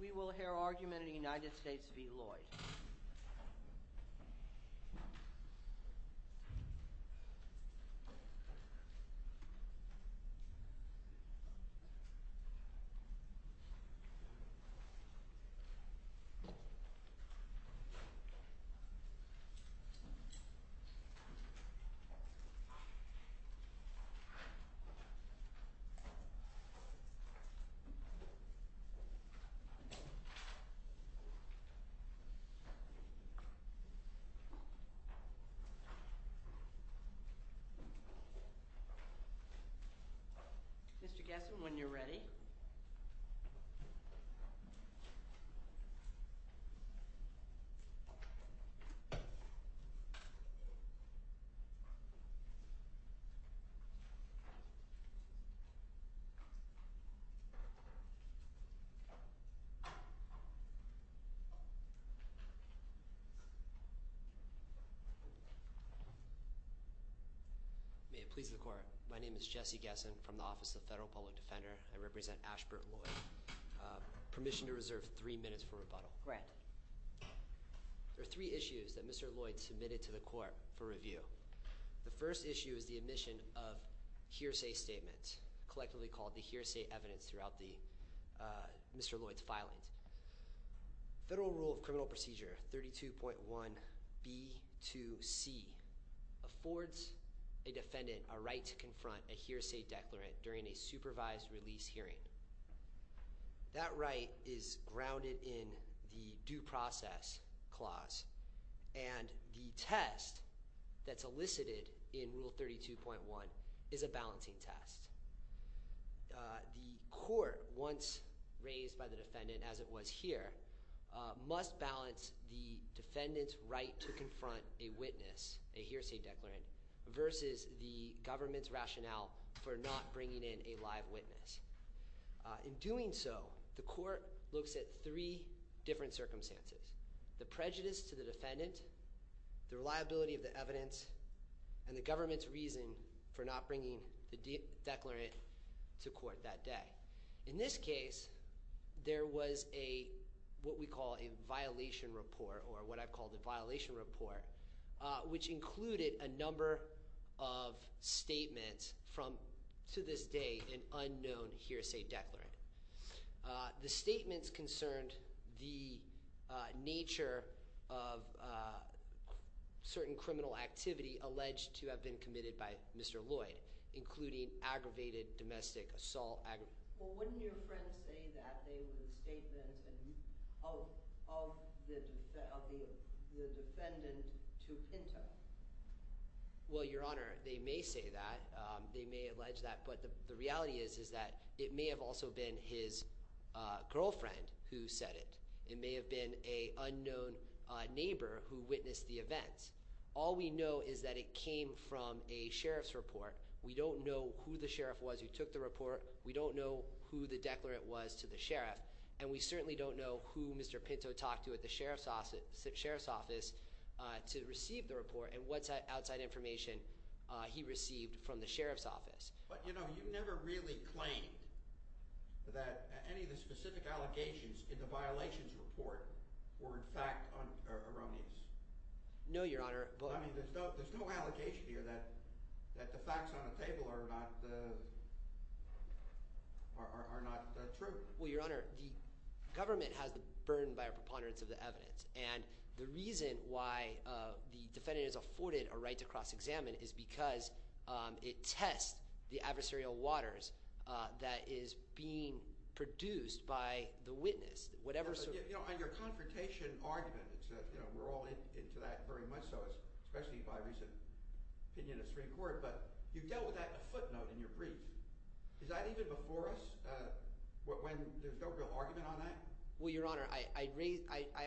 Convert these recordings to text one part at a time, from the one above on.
We will hear argument in the United States v. Lloyd. Mr. Gesson, when you're ready. May it please the court. My name is Jesse Gesson from the Office of the Federal Public Defender. I represent Ashburn Lloyd. Permission to reserve three minutes for rebuttal. Grant. There are three issues that Mr. Lloyd submitted to the court for review. The first issue is the admission of hearsay statements, collectively called the hearsay evidence throughout Mr. Lloyd's filings. Federal Rule of Criminal Procedure 32.1b to c affords a defendant a right to confront a hearsay declarant during a supervised release hearing. That right is grounded in the due process clause. And the test that's elicited in Rule 32.1 is a balancing test. The court, once raised by the defendant as it was here, must balance the defendant's right to confront a witness, a hearsay declarant, versus the government's rationale for not bringing in a live witness. In doing so, the court looks at three different circumstances. The prejudice to the defendant, the reliability of the evidence, and the government's reason for not bringing the declarant to court that day. In this case, there was what we call a violation report, or what I've called a violation report, which included a number of statements from, to this day, an unknown hearsay declarant. The statements concerned the nature of certain criminal activity alleged to have been committed by Mr. Lloyd, including aggravated domestic assault. Well, wouldn't your friend say that they were statements of the defendant to Pinto? Well, Your Honor, they may say that. They may allege that. But the reality is that it may have also been his girlfriend who said it. It may have been an unknown neighbor who witnessed the events. All we know is that it came from a sheriff's report. We don't know who the sheriff was who took the report. We don't know who the declarant was to the sheriff. And we certainly don't know who Mr. Pinto talked to at the sheriff's office to receive the report and what outside information he received from the sheriff's office. But, you know, you never really claimed that any of the specific allegations in the violations report were, in fact, erroneous. No, Your Honor. I mean, there's no allegation here that the facts on the table are not true. Well, Your Honor, the government has the burden by a preponderance of the evidence. And the reason why the defendant is afforded a right to cross-examine is because it tests the adversarial waters that is being produced by the witness. On your confrontation argument, we're all into that very much so, especially by recent opinion of Supreme Court. But you dealt with that footnote in your brief. Is that even before us when there's no real argument on that? Well, Your Honor, I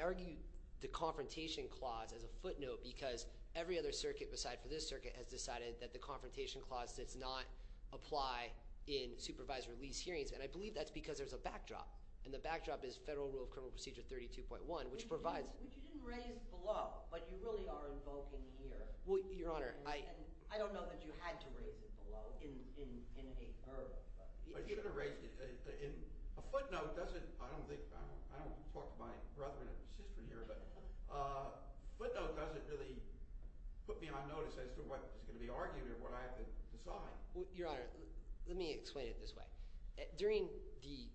argue the confrontation clause as a footnote because every other circuit besides for this circuit has decided that the confrontation clause does not apply in supervised release hearings. And I believe that's because there's a backdrop. And the backdrop is Federal Rule of Criminal Procedure 32.1, which provides – Which you didn't raise below, but you really are invoking here. Well, Your Honor, I – And I don't know that you had to raise it below in a – In a footnote, does it – I don't think – I don't talk to my brother and sister here, but footnote doesn't really put me on notice as to what is going to be argued or what I have to decide. Your Honor, let me explain it this way. During the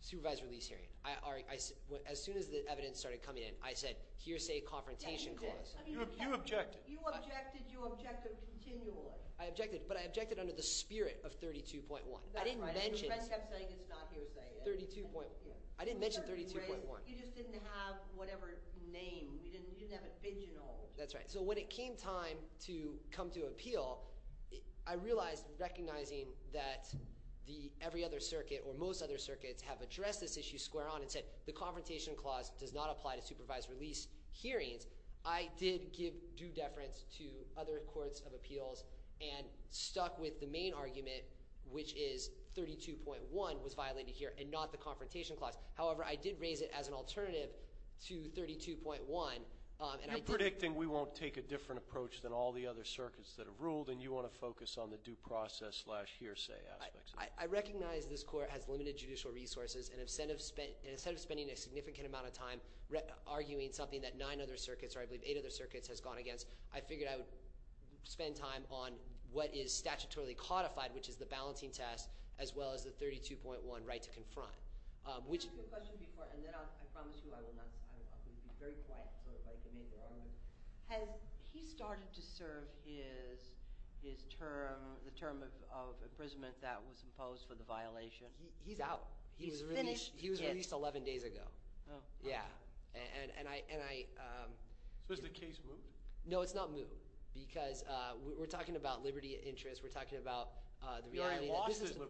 supervised release hearing, as soon as the evidence started coming in, I said, here's a confrontation clause. You objected. You objected. You objected continually. I objected, but I objected under the spirit of 32.1. I didn't mention – Your friend kept saying it's not hearsay. 32.1. I didn't mention 32.1. You just didn't have whatever name. You didn't have it big and old. That's right. So when it came time to come to appeal, I realized, recognizing that the – every other circuit or most other circuits have addressed this issue square on and said the confrontation clause does not apply to supervised release hearings. I did give due deference to other courts of appeals and stuck with the main argument, which is 32.1 was violated here and not the confrontation clause. However, I did raise it as an alternative to 32.1, and I did – You're predicting we won't take a different approach than all the other circuits that have ruled, and you want to focus on the due process-slash-hearsay aspects of it. I recognize this court has limited judicial resources, and instead of spending a significant amount of time arguing something that nine other circuits, or I believe eight other circuits, has gone against, I figured I would spend time on what is statutorily codified, which is the balancing test, as well as the 32.1 right to confront. I asked you a question before, and then I promise you I will not – I will be very quiet so everybody can make their argument. Has he started to serve his term – the term of imprisonment that was imposed for the violation? He's out. He's finished. He was released 11 days ago. Oh, okay. Yeah, and I – So has the case moved? No, it's not moved because we're talking about liberty of interest. We're talking about the reality that this is –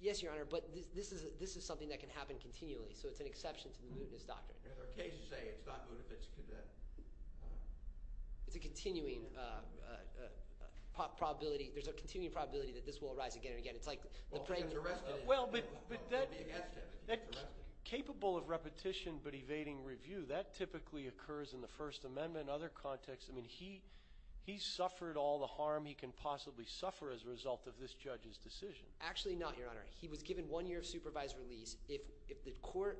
Yes, Your Honor, but this is something that can happen continually, so it's an exception to the mootness doctrine. There's a case to say it's not moot if it's condemned. It's a continuing probability – there's a continuing probability that this will arise again and again. It's like the – Well, if he gets arrested – Well, but that – It would be against him if he gets arrested. Capable of repetition but evading review, that typically occurs in the First Amendment and other contexts. I mean he suffered all the harm he can possibly suffer as a result of this judge's decision. Actually not, Your Honor. He was given one year of supervised release. If the court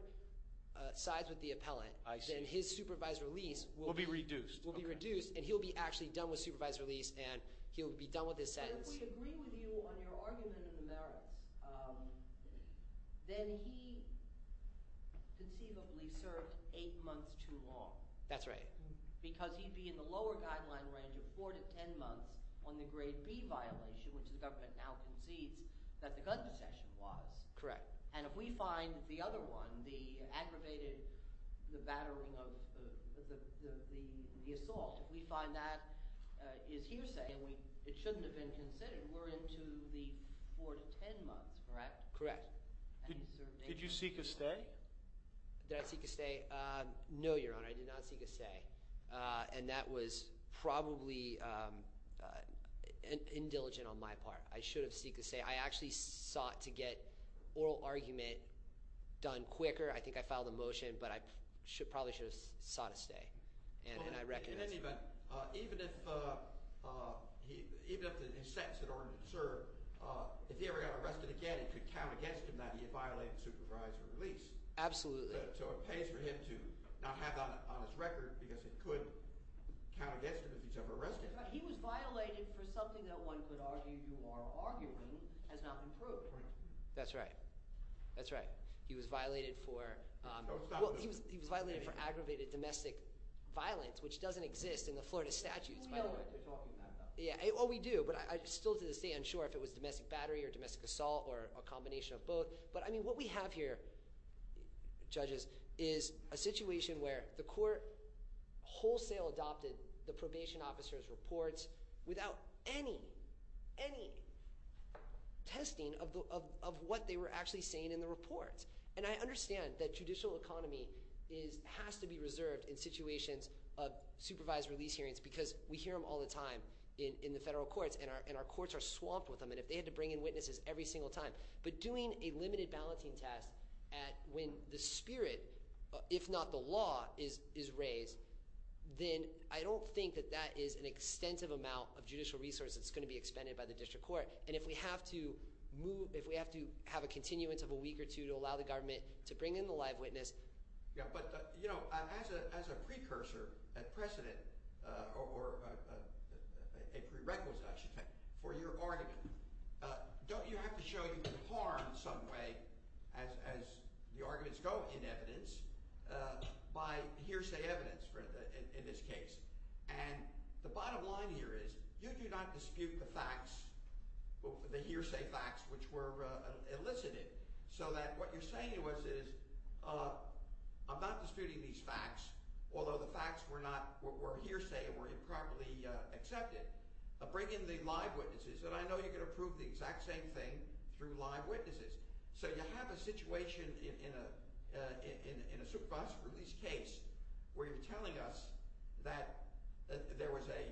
sides with the appellant, then his supervised release will be – Will be reduced. Will be reduced, and he'll be actually done with supervised release, and he'll be done with his sentence. But if we agree with you on your argument in the merits, then he conceivably served eight months too long. That's right. Because he'd be in the lower guideline range of four to ten months on the grade B violation, which the government now concedes that the gun possession was. Correct. And if we find the other one, the aggravated – the battering of – the assault. If we find that is hearsay and we – it shouldn't have been considered, we're into the four to ten months, correct? Correct. And he served eight months too long. Did you seek a stay? Did I seek a stay? No, Your Honor. I did not seek a stay, and that was probably indeligent on my part. I should have seeked a stay. I actually sought to get oral argument done quicker. I think I filed a motion, but I probably should have sought a stay, and I recognize – In any event, even if – even if his sentence had already been served, if he ever got arrested again, it could count against him that he violated supervised release. Absolutely. So it pays for him to not have that on his record because it could count against him if he's ever arrested. He was violated for something that one could argue you are arguing has not been proved. That's right. That's right. He was violated for – Don't stop me. Well, he was violated for aggravated domestic violence, which doesn't exist in the Florida statutes, by the way. We know what you're talking about, though. Yeah. Well, we do, but I'm still to this day unsure if it was domestic battery or domestic assault or a combination of both. But, I mean, what we have here, judges, is a situation where the court wholesale adopted the probation officer's reports without any, any testing of what they were actually saying in the reports. And I understand that judicial economy is – has to be reserved in situations of supervised release hearings because we hear them all the time in the federal courts, and our courts are swamped with them. And if they had to bring in witnesses every single time – but doing a limited balloting test at – when the spirit, if not the law, is raised, then I don't think that that is an extensive amount of judicial resource that's going to be expended by the district court. And if we have to move – if we have to have a continuance of a week or two to allow the government to bring in the live witness – Yeah, but as a precursor, a precedent, or a prerequisite, I should say, for your argument, don't you have to show you can harm in some way as the arguments go in evidence by hearsay evidence in this case? And the bottom line here is you do not dispute the facts, the hearsay facts which were elicited, so that what you're saying to us is I'm not disputing these facts, although the facts were not – were hearsay and were improperly accepted. Bring in the live witnesses, and I know you're going to prove the exact same thing through live witnesses. So you have a situation in a superboss release case where you're telling us that there was a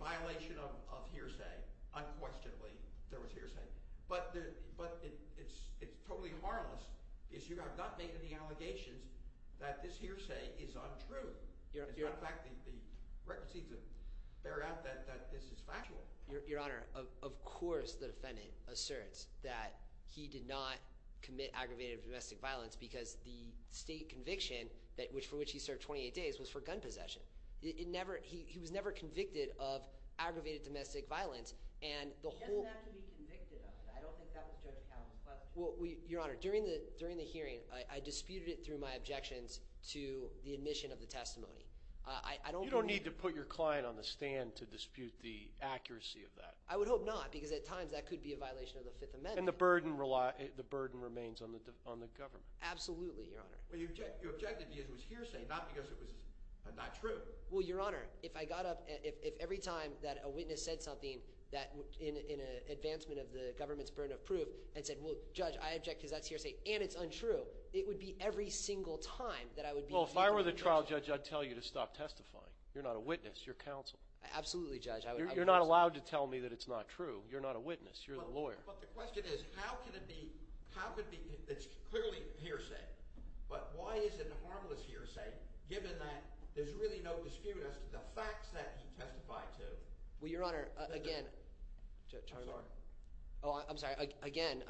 violation of hearsay. Unquestionably, there was hearsay. But it's totally harmless because you have not made any allegations that this hearsay is untrue. In fact, the record seems to bear out that this is factual. Your Honor, of course the defendant asserts that he did not commit aggravated domestic violence because the state conviction for which he served 28 days was for gun possession. It never – he was never convicted of aggravated domestic violence, and the whole – He doesn't have to be convicted of it. I don't think that was Judge Campbell's question. Well, Your Honor, during the hearing, I disputed it through my objections to the admission of the testimony. I don't believe – You don't need to put your client on the stand to dispute the accuracy of that. I would hope not because at times that could be a violation of the Fifth Amendment. And the burden remains on the government. Absolutely, Your Honor. Well, you objected because it was hearsay, not because it was not true. Well, Your Honor, if I got up – if every time that a witness said something in advancement of the government's burden of proof and said, well, Judge, I object because that's hearsay and it's untrue, it would be every single time that I would be – Well, if I were the trial judge, I'd tell you to stop testifying. You're not a witness. You're counsel. Absolutely, Judge. You're not allowed to tell me that it's not true. You're not a witness. You're the lawyer. But the question is how could it be – it's clearly hearsay, but why is it a harmless hearsay given that there's really no dispute as to the facts that he testified to? Well, Your Honor, again – I'm sorry. Oh, I'm sorry. Again,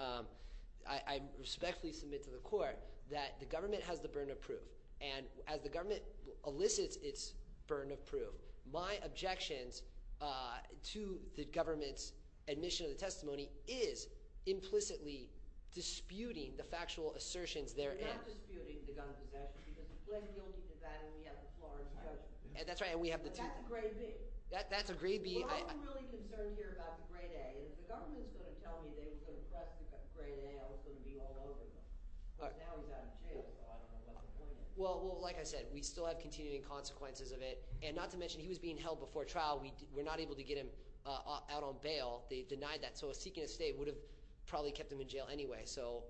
I respectfully submit to the court that the government has the burden of proof. And as the government elicits its burden of proof, my objections to the government's admission of the testimony is implicitly disputing the factual assertions therein. You're not disputing the gun possession because the plain guilty is that, and we have the Florence judgment. That's right, and we have the – That's a grade B. That's a grade B. I'm really concerned here about the grade A, and if the government is going to tell me they were going to press the grade A, I was going to be all over them because now he's out of jail. So I don't know what the point is. Well, like I said, we still have continuing consequences of it, and not to mention he was being held before trial. We're not able to get him out on bail. They denied that, so a seeking of state would have probably kept him in jail anyway. So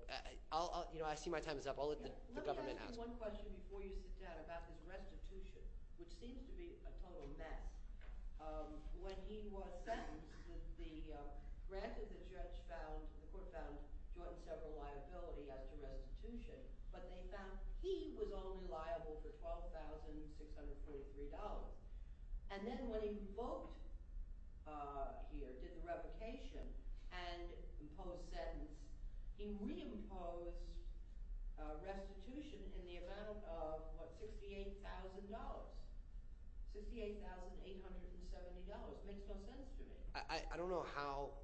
I'll – I see my time is up. I'll let the government answer. I have one question before you sit down about this restitution, which seems to be a total mess. When he was sentenced, the – granted the judge found – the court found Jordan several liability as to restitution, but they found he was only liable for $12,623. And then when he booked here, did the revocation and imposed sentence, he reimposed restitution in the amount of, what, $68,000 – $68,870. It makes no sense to me. I don't know how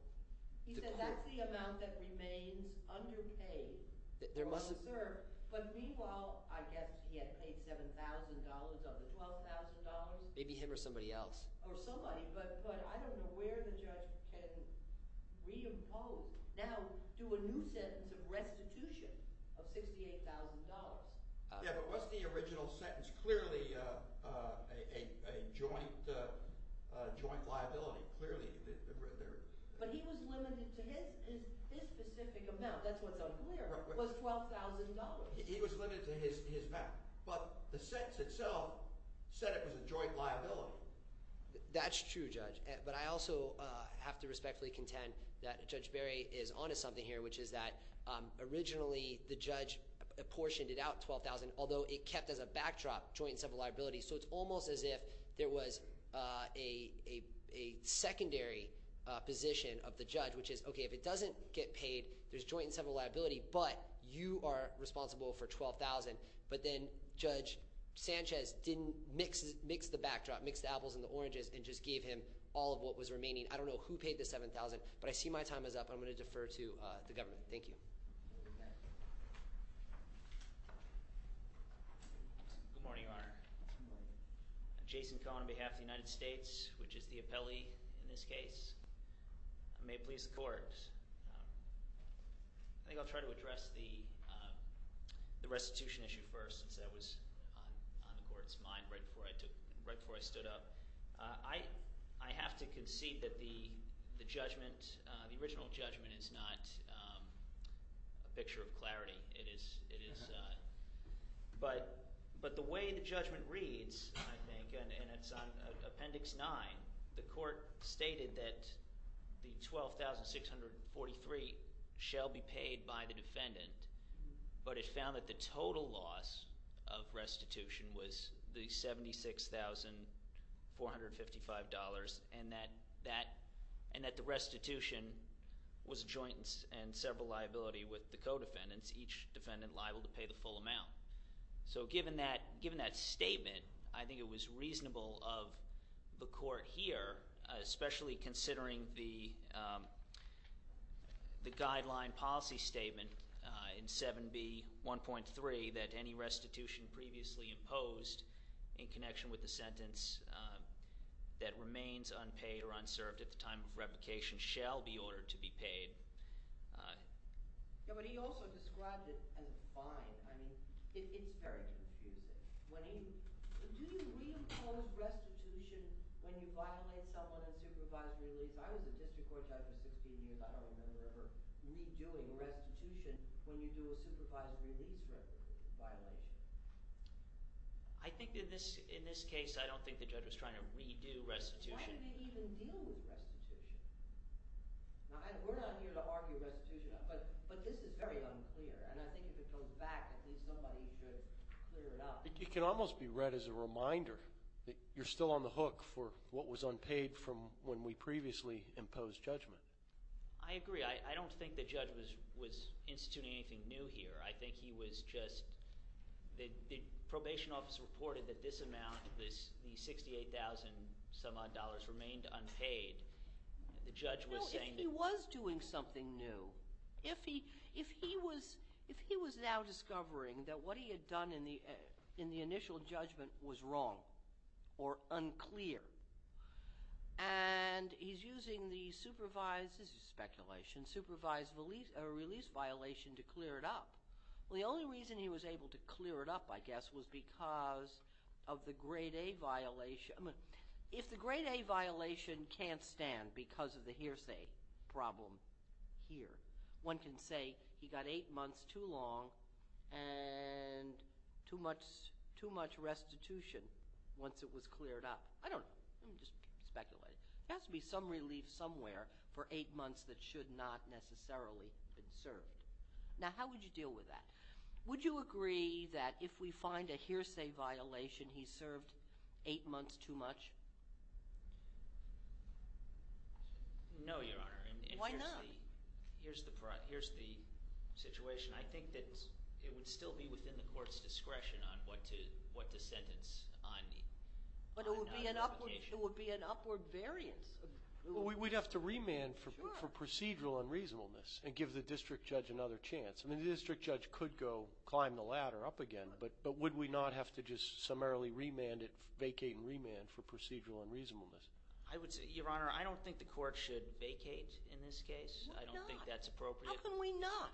to put – He said that's the amount that remains underpaid for what he served. But meanwhile, I guess he had paid $7,000 of the $12,000. Maybe him or somebody else. Or somebody, but I don't know where the judge can reimpose – now do a new sentence of restitution of $68,000. Yeah, but what's the original sentence? Clearly a joint liability. Clearly there – But he was limited to his specific amount. That's what's unclear, was $12,000. He was limited to his amount, but the sentence itself said it was a joint liability. That's true, Judge, but I also have to respectfully contend that Judge Berry is onto something here, which is that originally the judge apportioned it out, $12,000, although it kept as a backdrop joint and several liabilities. So it's almost as if there was a secondary position of the judge, which is, okay, if it doesn't get paid, there's joint and several liability, but you are responsible for $12,000. But then Judge Sanchez didn't mix the backdrop, mixed the apples and the oranges, and just gave him all of what was remaining. I don't know who paid the $7,000, but I see my time is up. I'm going to defer to the government. Thank you. Good morning, Your Honor. I'm Jason Cohen on behalf of the United States, which is the appellee in this case. I may please the court. I think I'll try to address the restitution issue first since that was on the court's mind right before I took – right before I stood up. I have to concede that the judgment – the original judgment is not a picture of clarity. But the way the judgment reads, I think, and it's on Appendix 9, the court stated that the $12,643 shall be paid by the defendant. But it found that the total loss of restitution was the $76,455 and that the restitution was joint and several liability with the co-defendants, each defendant liable to pay the full amount. So given that statement, I think it was reasonable of the court here, especially considering the guideline policy statement in 7B1.3 that any restitution previously imposed in connection with the sentence that remains unpaid or unserved at the time of replication shall be ordered to be paid. Yeah, but he also described it as a fine. I mean it's very confusing. When he – do you reimpose restitution when you violate someone in supervised release? I was a district court judge for 16 years. I don't remember ever redoing restitution when you do a supervised release violation. I think that this – in this case, I don't think the judge was trying to redo restitution. Why did he even deal with restitution? We're not here to argue restitution, but this is very unclear, and I think if it goes back, at least somebody should clear it up. It can almost be read as a reminder that you're still on the hook for what was unpaid from when we previously imposed judgment. I agree. I don't think the judge was instituting anything new here. I think he was just – the probation office reported that this amount, the $68,000-some-odd remained unpaid. The judge was saying that – No, if he was doing something new, if he was now discovering that what he had done in the initial judgment was wrong or unclear, and he's using the supervised – this is speculation – supervised release violation to clear it up. Well, the only reason he was able to clear it up, I guess, was because of the grade A violation. If the grade A violation can't stand because of the hearsay problem here, one can say he got eight months too long and too much restitution once it was cleared up. I don't know. I'm just speculating. There has to be some relief somewhere for eight months that should not necessarily have been served. Now, how would you deal with that? Would you agree that if we find a hearsay violation, he served eight months too much? No, Your Honor. Why not? Here's the situation. I think that it would still be within the court's discretion on what to sentence. But it would be an upward variance. We'd have to remand for procedural unreasonableness and give the district judge another chance. I mean, the district judge could go climb the ladder up again, but would we not have to just summarily remand it, vacate and remand for procedural unreasonableness? Your Honor, I don't think the court should vacate in this case. I don't think that's appropriate. How can we not?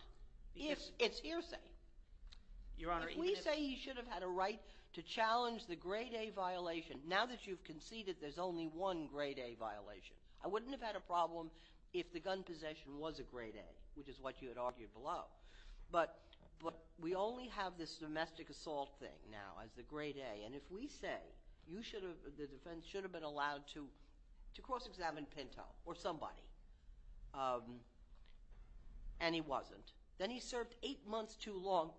It's hearsay. If we say he should have had a right to challenge the grade A violation, now that you've conceded there's only one grade A violation, I wouldn't have had a problem if the gun possession was a grade A, which is what you had argued below. But we only have this domestic assault thing now as the grade A. And if we say the defense should have been allowed to cross-examine Pinto or somebody, and he wasn't, then he served eight months too long,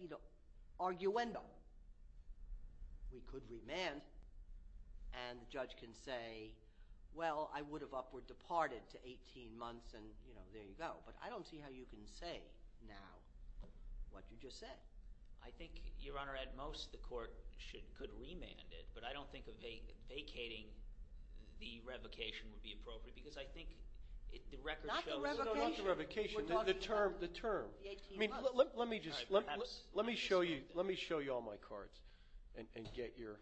you know, arguendo, we could remand. And the judge can say, well, I would have upward departed to 18 months, and there you go. But I don't see how you can say now what you just said. I think, Your Honor, at most the court could remand it. But I don't think vacating the revocation would be appropriate because I think the record shows— Not the revocation. Not the revocation. The term. The 18 months. Let me show you all my cards and get your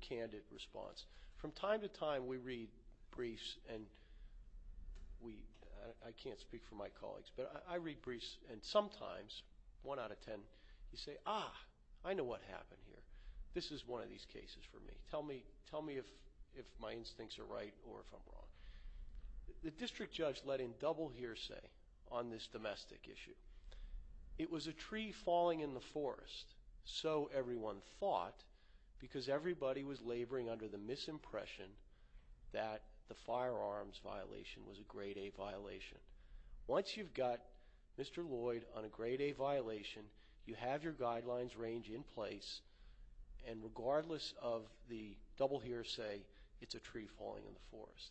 candid response. From time to time we read briefs, and I can't speak for my colleagues, but I read briefs, and sometimes, one out of ten, you say, ah, I know what happened here. This is one of these cases for me. Tell me if my instincts are right or if I'm wrong. The district judge let in double hearsay on this domestic issue. It was a tree falling in the forest, so everyone thought, because everybody was laboring under the misimpression that the firearms violation was a Grade A violation. Once you've got Mr. Lloyd on a Grade A violation, you have your guidelines range in place, and regardless of the double hearsay, it's a tree falling in the forest.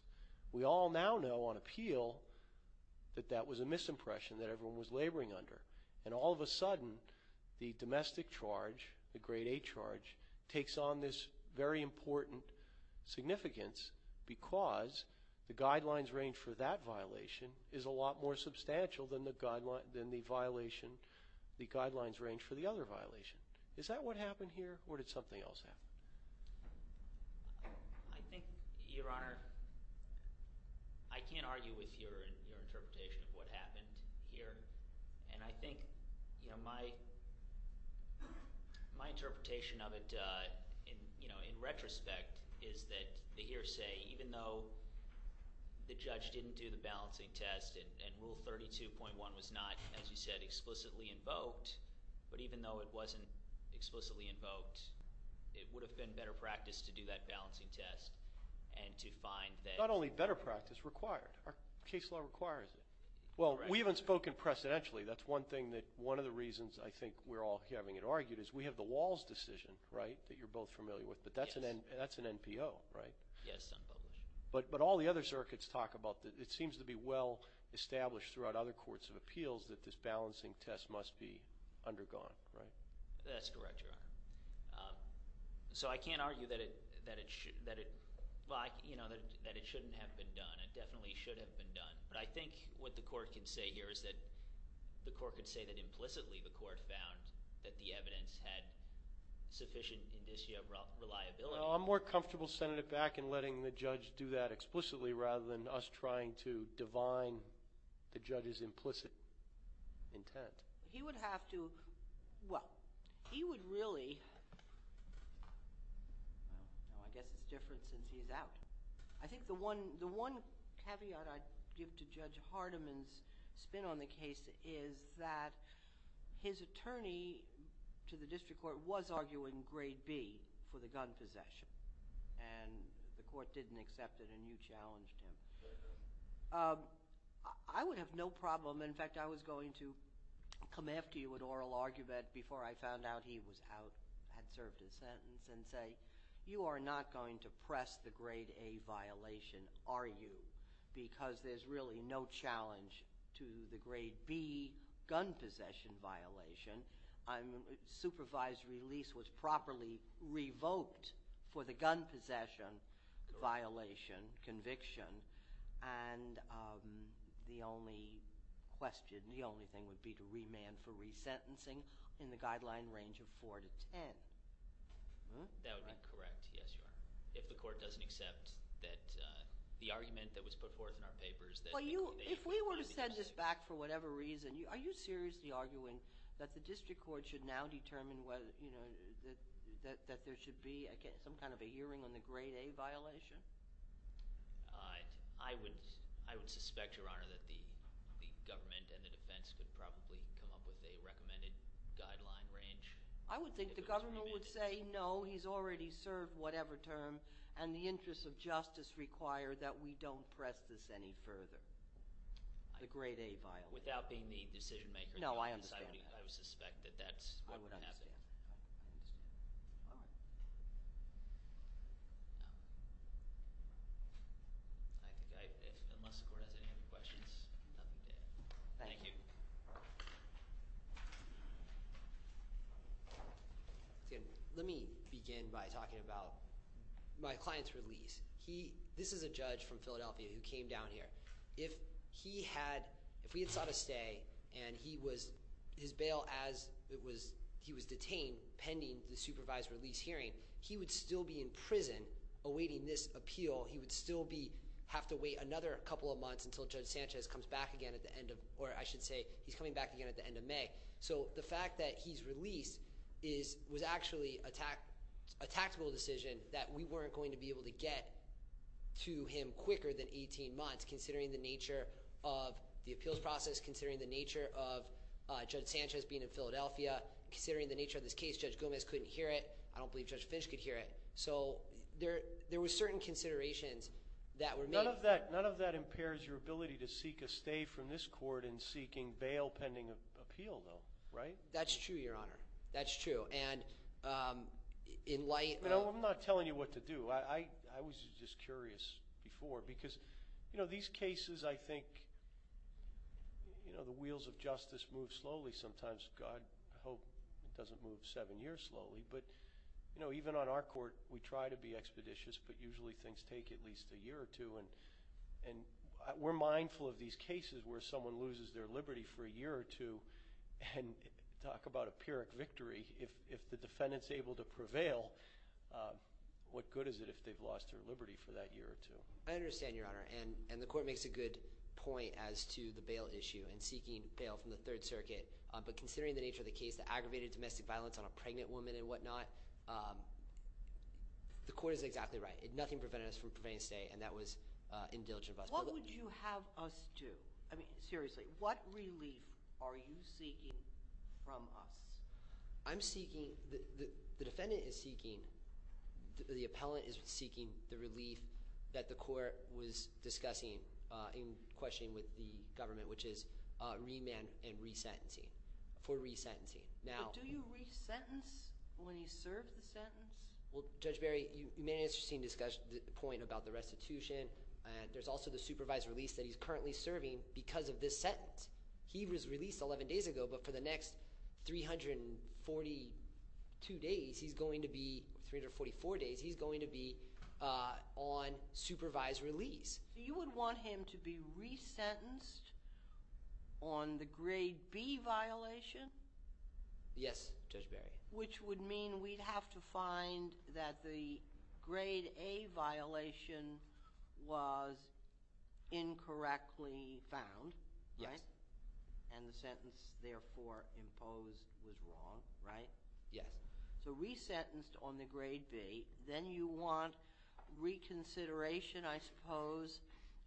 We all now know on appeal that that was a misimpression that everyone was laboring under, and all of a sudden the domestic charge, the Grade A charge, takes on this very important significance because the guidelines range for that violation is a lot more substantial than the guidelines range for the other violation. Is that what happened here, or did something else happen? I think, Your Honor, I can't argue with your interpretation of what happened here, and I think, you know, my interpretation of it, you know, in retrospect, is that the hearsay, even though the judge didn't do the balancing test and Rule 32.1 was not, as you said, explicitly invoked, but even though it wasn't explicitly invoked, it would have been better practice to do that balancing test and to find that... Not only better practice, required. Our case law requires it. Well, we haven't spoken precedentially. That's one thing that one of the reasons I think we're all having it argued is we have the Walls decision, right, that you're both familiar with, but that's an NPO, right? Yes, unpublished. But all the other circuits talk about it. It seems to be well established throughout other courts of appeals that this balancing test must be undergone, right? That's correct, Your Honor. So I can't argue that it shouldn't have been done. It definitely should have been done. But I think what the court can say here is that the court can say that implicitly the court found that the evidence had sufficient indicia of reliability. Well, I'm more comfortable, Senator, back in letting the judge do that explicitly rather than us trying to divine the judge's implicit intent. He would have to, well, he would really, well, I guess it's different since he's out. I think the one caveat I'd give to Judge Hardiman's spin on the case is that his attorney to the district court was arguing grade B for the gun possession, and the court didn't accept it, and you challenged him. I would have no problem, in fact, I was going to come after you at oral argument before I found out he was out, had served his sentence, and say you are not going to press the grade A violation, are you? Because there's really no challenge to the grade B gun possession violation. Supervised release was properly revoked for the gun possession violation conviction. And the only question, the only thing would be to remand for resentencing in the guideline range of 4 to 10. That would be correct, yes, Your Honor. If the court doesn't accept that the argument that was put forth in our paper is that they found the implicit intent. If we were to send this back for whatever reason, are you seriously arguing that the district court should now determine that there should be some kind of a hearing on the grade A violation? I would suspect, Your Honor, that the government and the defense could probably come up with a recommended guideline range. I would think the government would say, no, he's already served whatever term, and the interests of justice require that we don't press this any further, the grade A violation. Without being the decision maker in the case, I would suspect that that's what would happen. I would understand. I understand. All right. I think unless the court has any other questions, nothing to add. Thank you. Let me begin by talking about my client's release. This is a judge from Philadelphia who came down here. If we had sought a stay and his bail as he was detained pending the supervised release hearing, he would still be in prison awaiting this appeal. He would still have to wait another couple of months until Judge Sanchez comes back again at the end of May. So the fact that he's released was actually a tactical decision that we weren't going to be able to get to him quicker than 18 months, considering the nature of the appeals process, considering the nature of Judge Sanchez being in Philadelphia, considering the nature of this case. Judge Gomez couldn't hear it. I don't believe Judge Finch could hear it. So there were certain considerations that were made. None of that impairs your ability to seek a stay from this court in seeking bail pending an appeal though, right? That's true, Your Honor. That's true. And in light of – I'm not telling you what to do. I was just curious before because, you know, these cases I think, you know, the wheels of justice move slowly sometimes. God hope it doesn't move seven years slowly. But, you know, even on our court, we try to be expeditious, but usually things take at least a year or two. And we're mindful of these cases where someone loses their liberty for a year or two and talk about a Pyrrhic victory. If the defendant is able to prevail, what good is it if they've lost their liberty for that year or two? I understand, Your Honor. And the court makes a good point as to the bail issue and seeking bail from the Third Circuit. But considering the nature of the case, the aggravated domestic violence on a pregnant woman and whatnot, the court is exactly right. Nothing prevented us from prevailing a stay, and that was indeligent of us. What would you have us do? I mean, seriously, what relief are you seeking from us? I'm seeking – the defendant is seeking – the appellant is seeking the relief that the court was discussing in questioning with the government, which is remand and re-sentencing – for re-sentencing. But do you re-sentence when he's served the sentence? Well, Judge Barry, you made an interesting point about the restitution. There's also the supervised release that he's currently serving because of this sentence. He was released 11 days ago, but for the next 342 days he's going to be – 344 days – he's going to be on supervised release. You would want him to be re-sentenced on the Grade B violation? Yes, Judge Barry. Which would mean we'd have to find that the Grade A violation was incorrectly found, right? Yes. And the sentence, therefore, imposed was wrong, right? Yes. So re-sentenced on the Grade B. Then you want reconsideration, I suppose,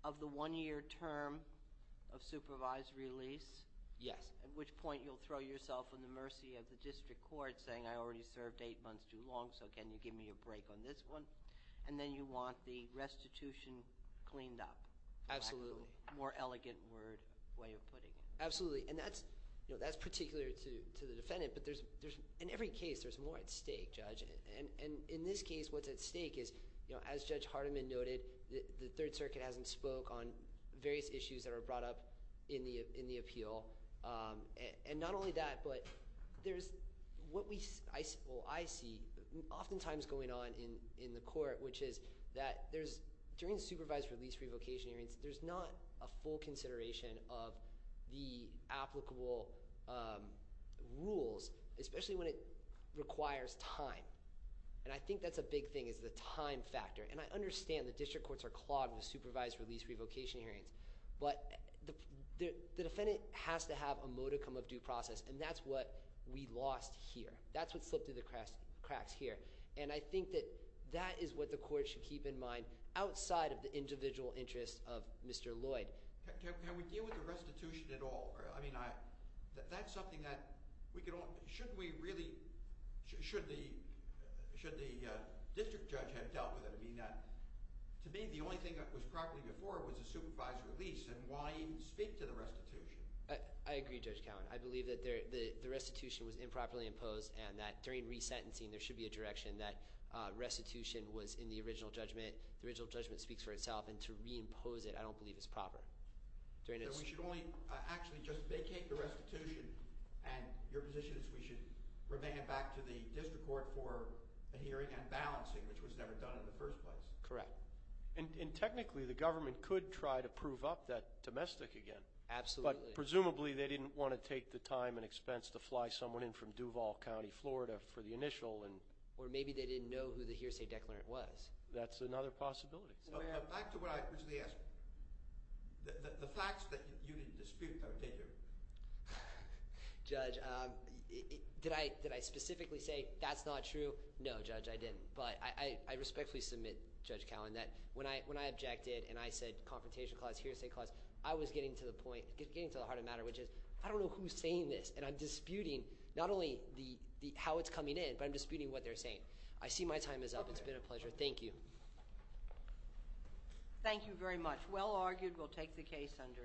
of the one-year term of supervised release? Yes. At which point you'll throw yourself in the mercy of the district court saying, I already served eight months too long, so can you give me a break on this one? And then you want the restitution cleaned up. Absolutely. More elegant word – way of putting it. Absolutely. And that's particular to the defendant, but in every case there's more at stake, Judge. And in this case what's at stake is, as Judge Hardiman noted, the Third Circuit hasn't spoke on various issues that are brought up in the appeal. And not only that, but there's what I see oftentimes going on in the court, which is that during supervised release revocation hearings, there's not a full consideration of the applicable rules, especially when it requires time. And I think that's a big thing is the time factor. And I understand the district courts are clogged with supervised release revocation hearings, but the defendant has to have a modicum of due process, and that's what we lost here. That's what slipped through the cracks here. And I think that that is what the court should keep in mind outside of the individual interests of Mr. Lloyd. Can we deal with the restitution at all? I mean, that's something that we could all – should we really – should the district judge have dealt with it? I mean, to me, the only thing that was properly before was a supervised release, and why even speak to the restitution? I agree, Judge Cowen. I believe that the restitution was improperly imposed and that during resentencing, there should be a direction that restitution was in the original judgment. The original judgment speaks for itself, and to reimpose it I don't believe is proper. So we should only actually just vacate the restitution, and your position is we should revoke it back to the district court for a hearing and balancing, which was never done in the first place? Correct. And technically, the government could try to prove up that domestic again. Absolutely. But presumably they didn't want to take the time and expense to fly someone in from Duval County, Florida, for the initial. Or maybe they didn't know who the hearsay declarant was. That's another possibility. Back to what I originally asked. The facts that you didn't dispute, though, did you? Judge, did I specifically say that's not true? No, Judge, I didn't. But I respectfully submit, Judge Cowen, that when I objected and I said confrontation clause, hearsay clause, I was getting to the point, getting to the heart of the matter, which is I don't know who's saying this, and I'm disputing not only how it's coming in, but I'm disputing what they're saying. I see my time is up. It's been a pleasure. Thank you. Thank you very much. Well argued. We'll take the case under advisement.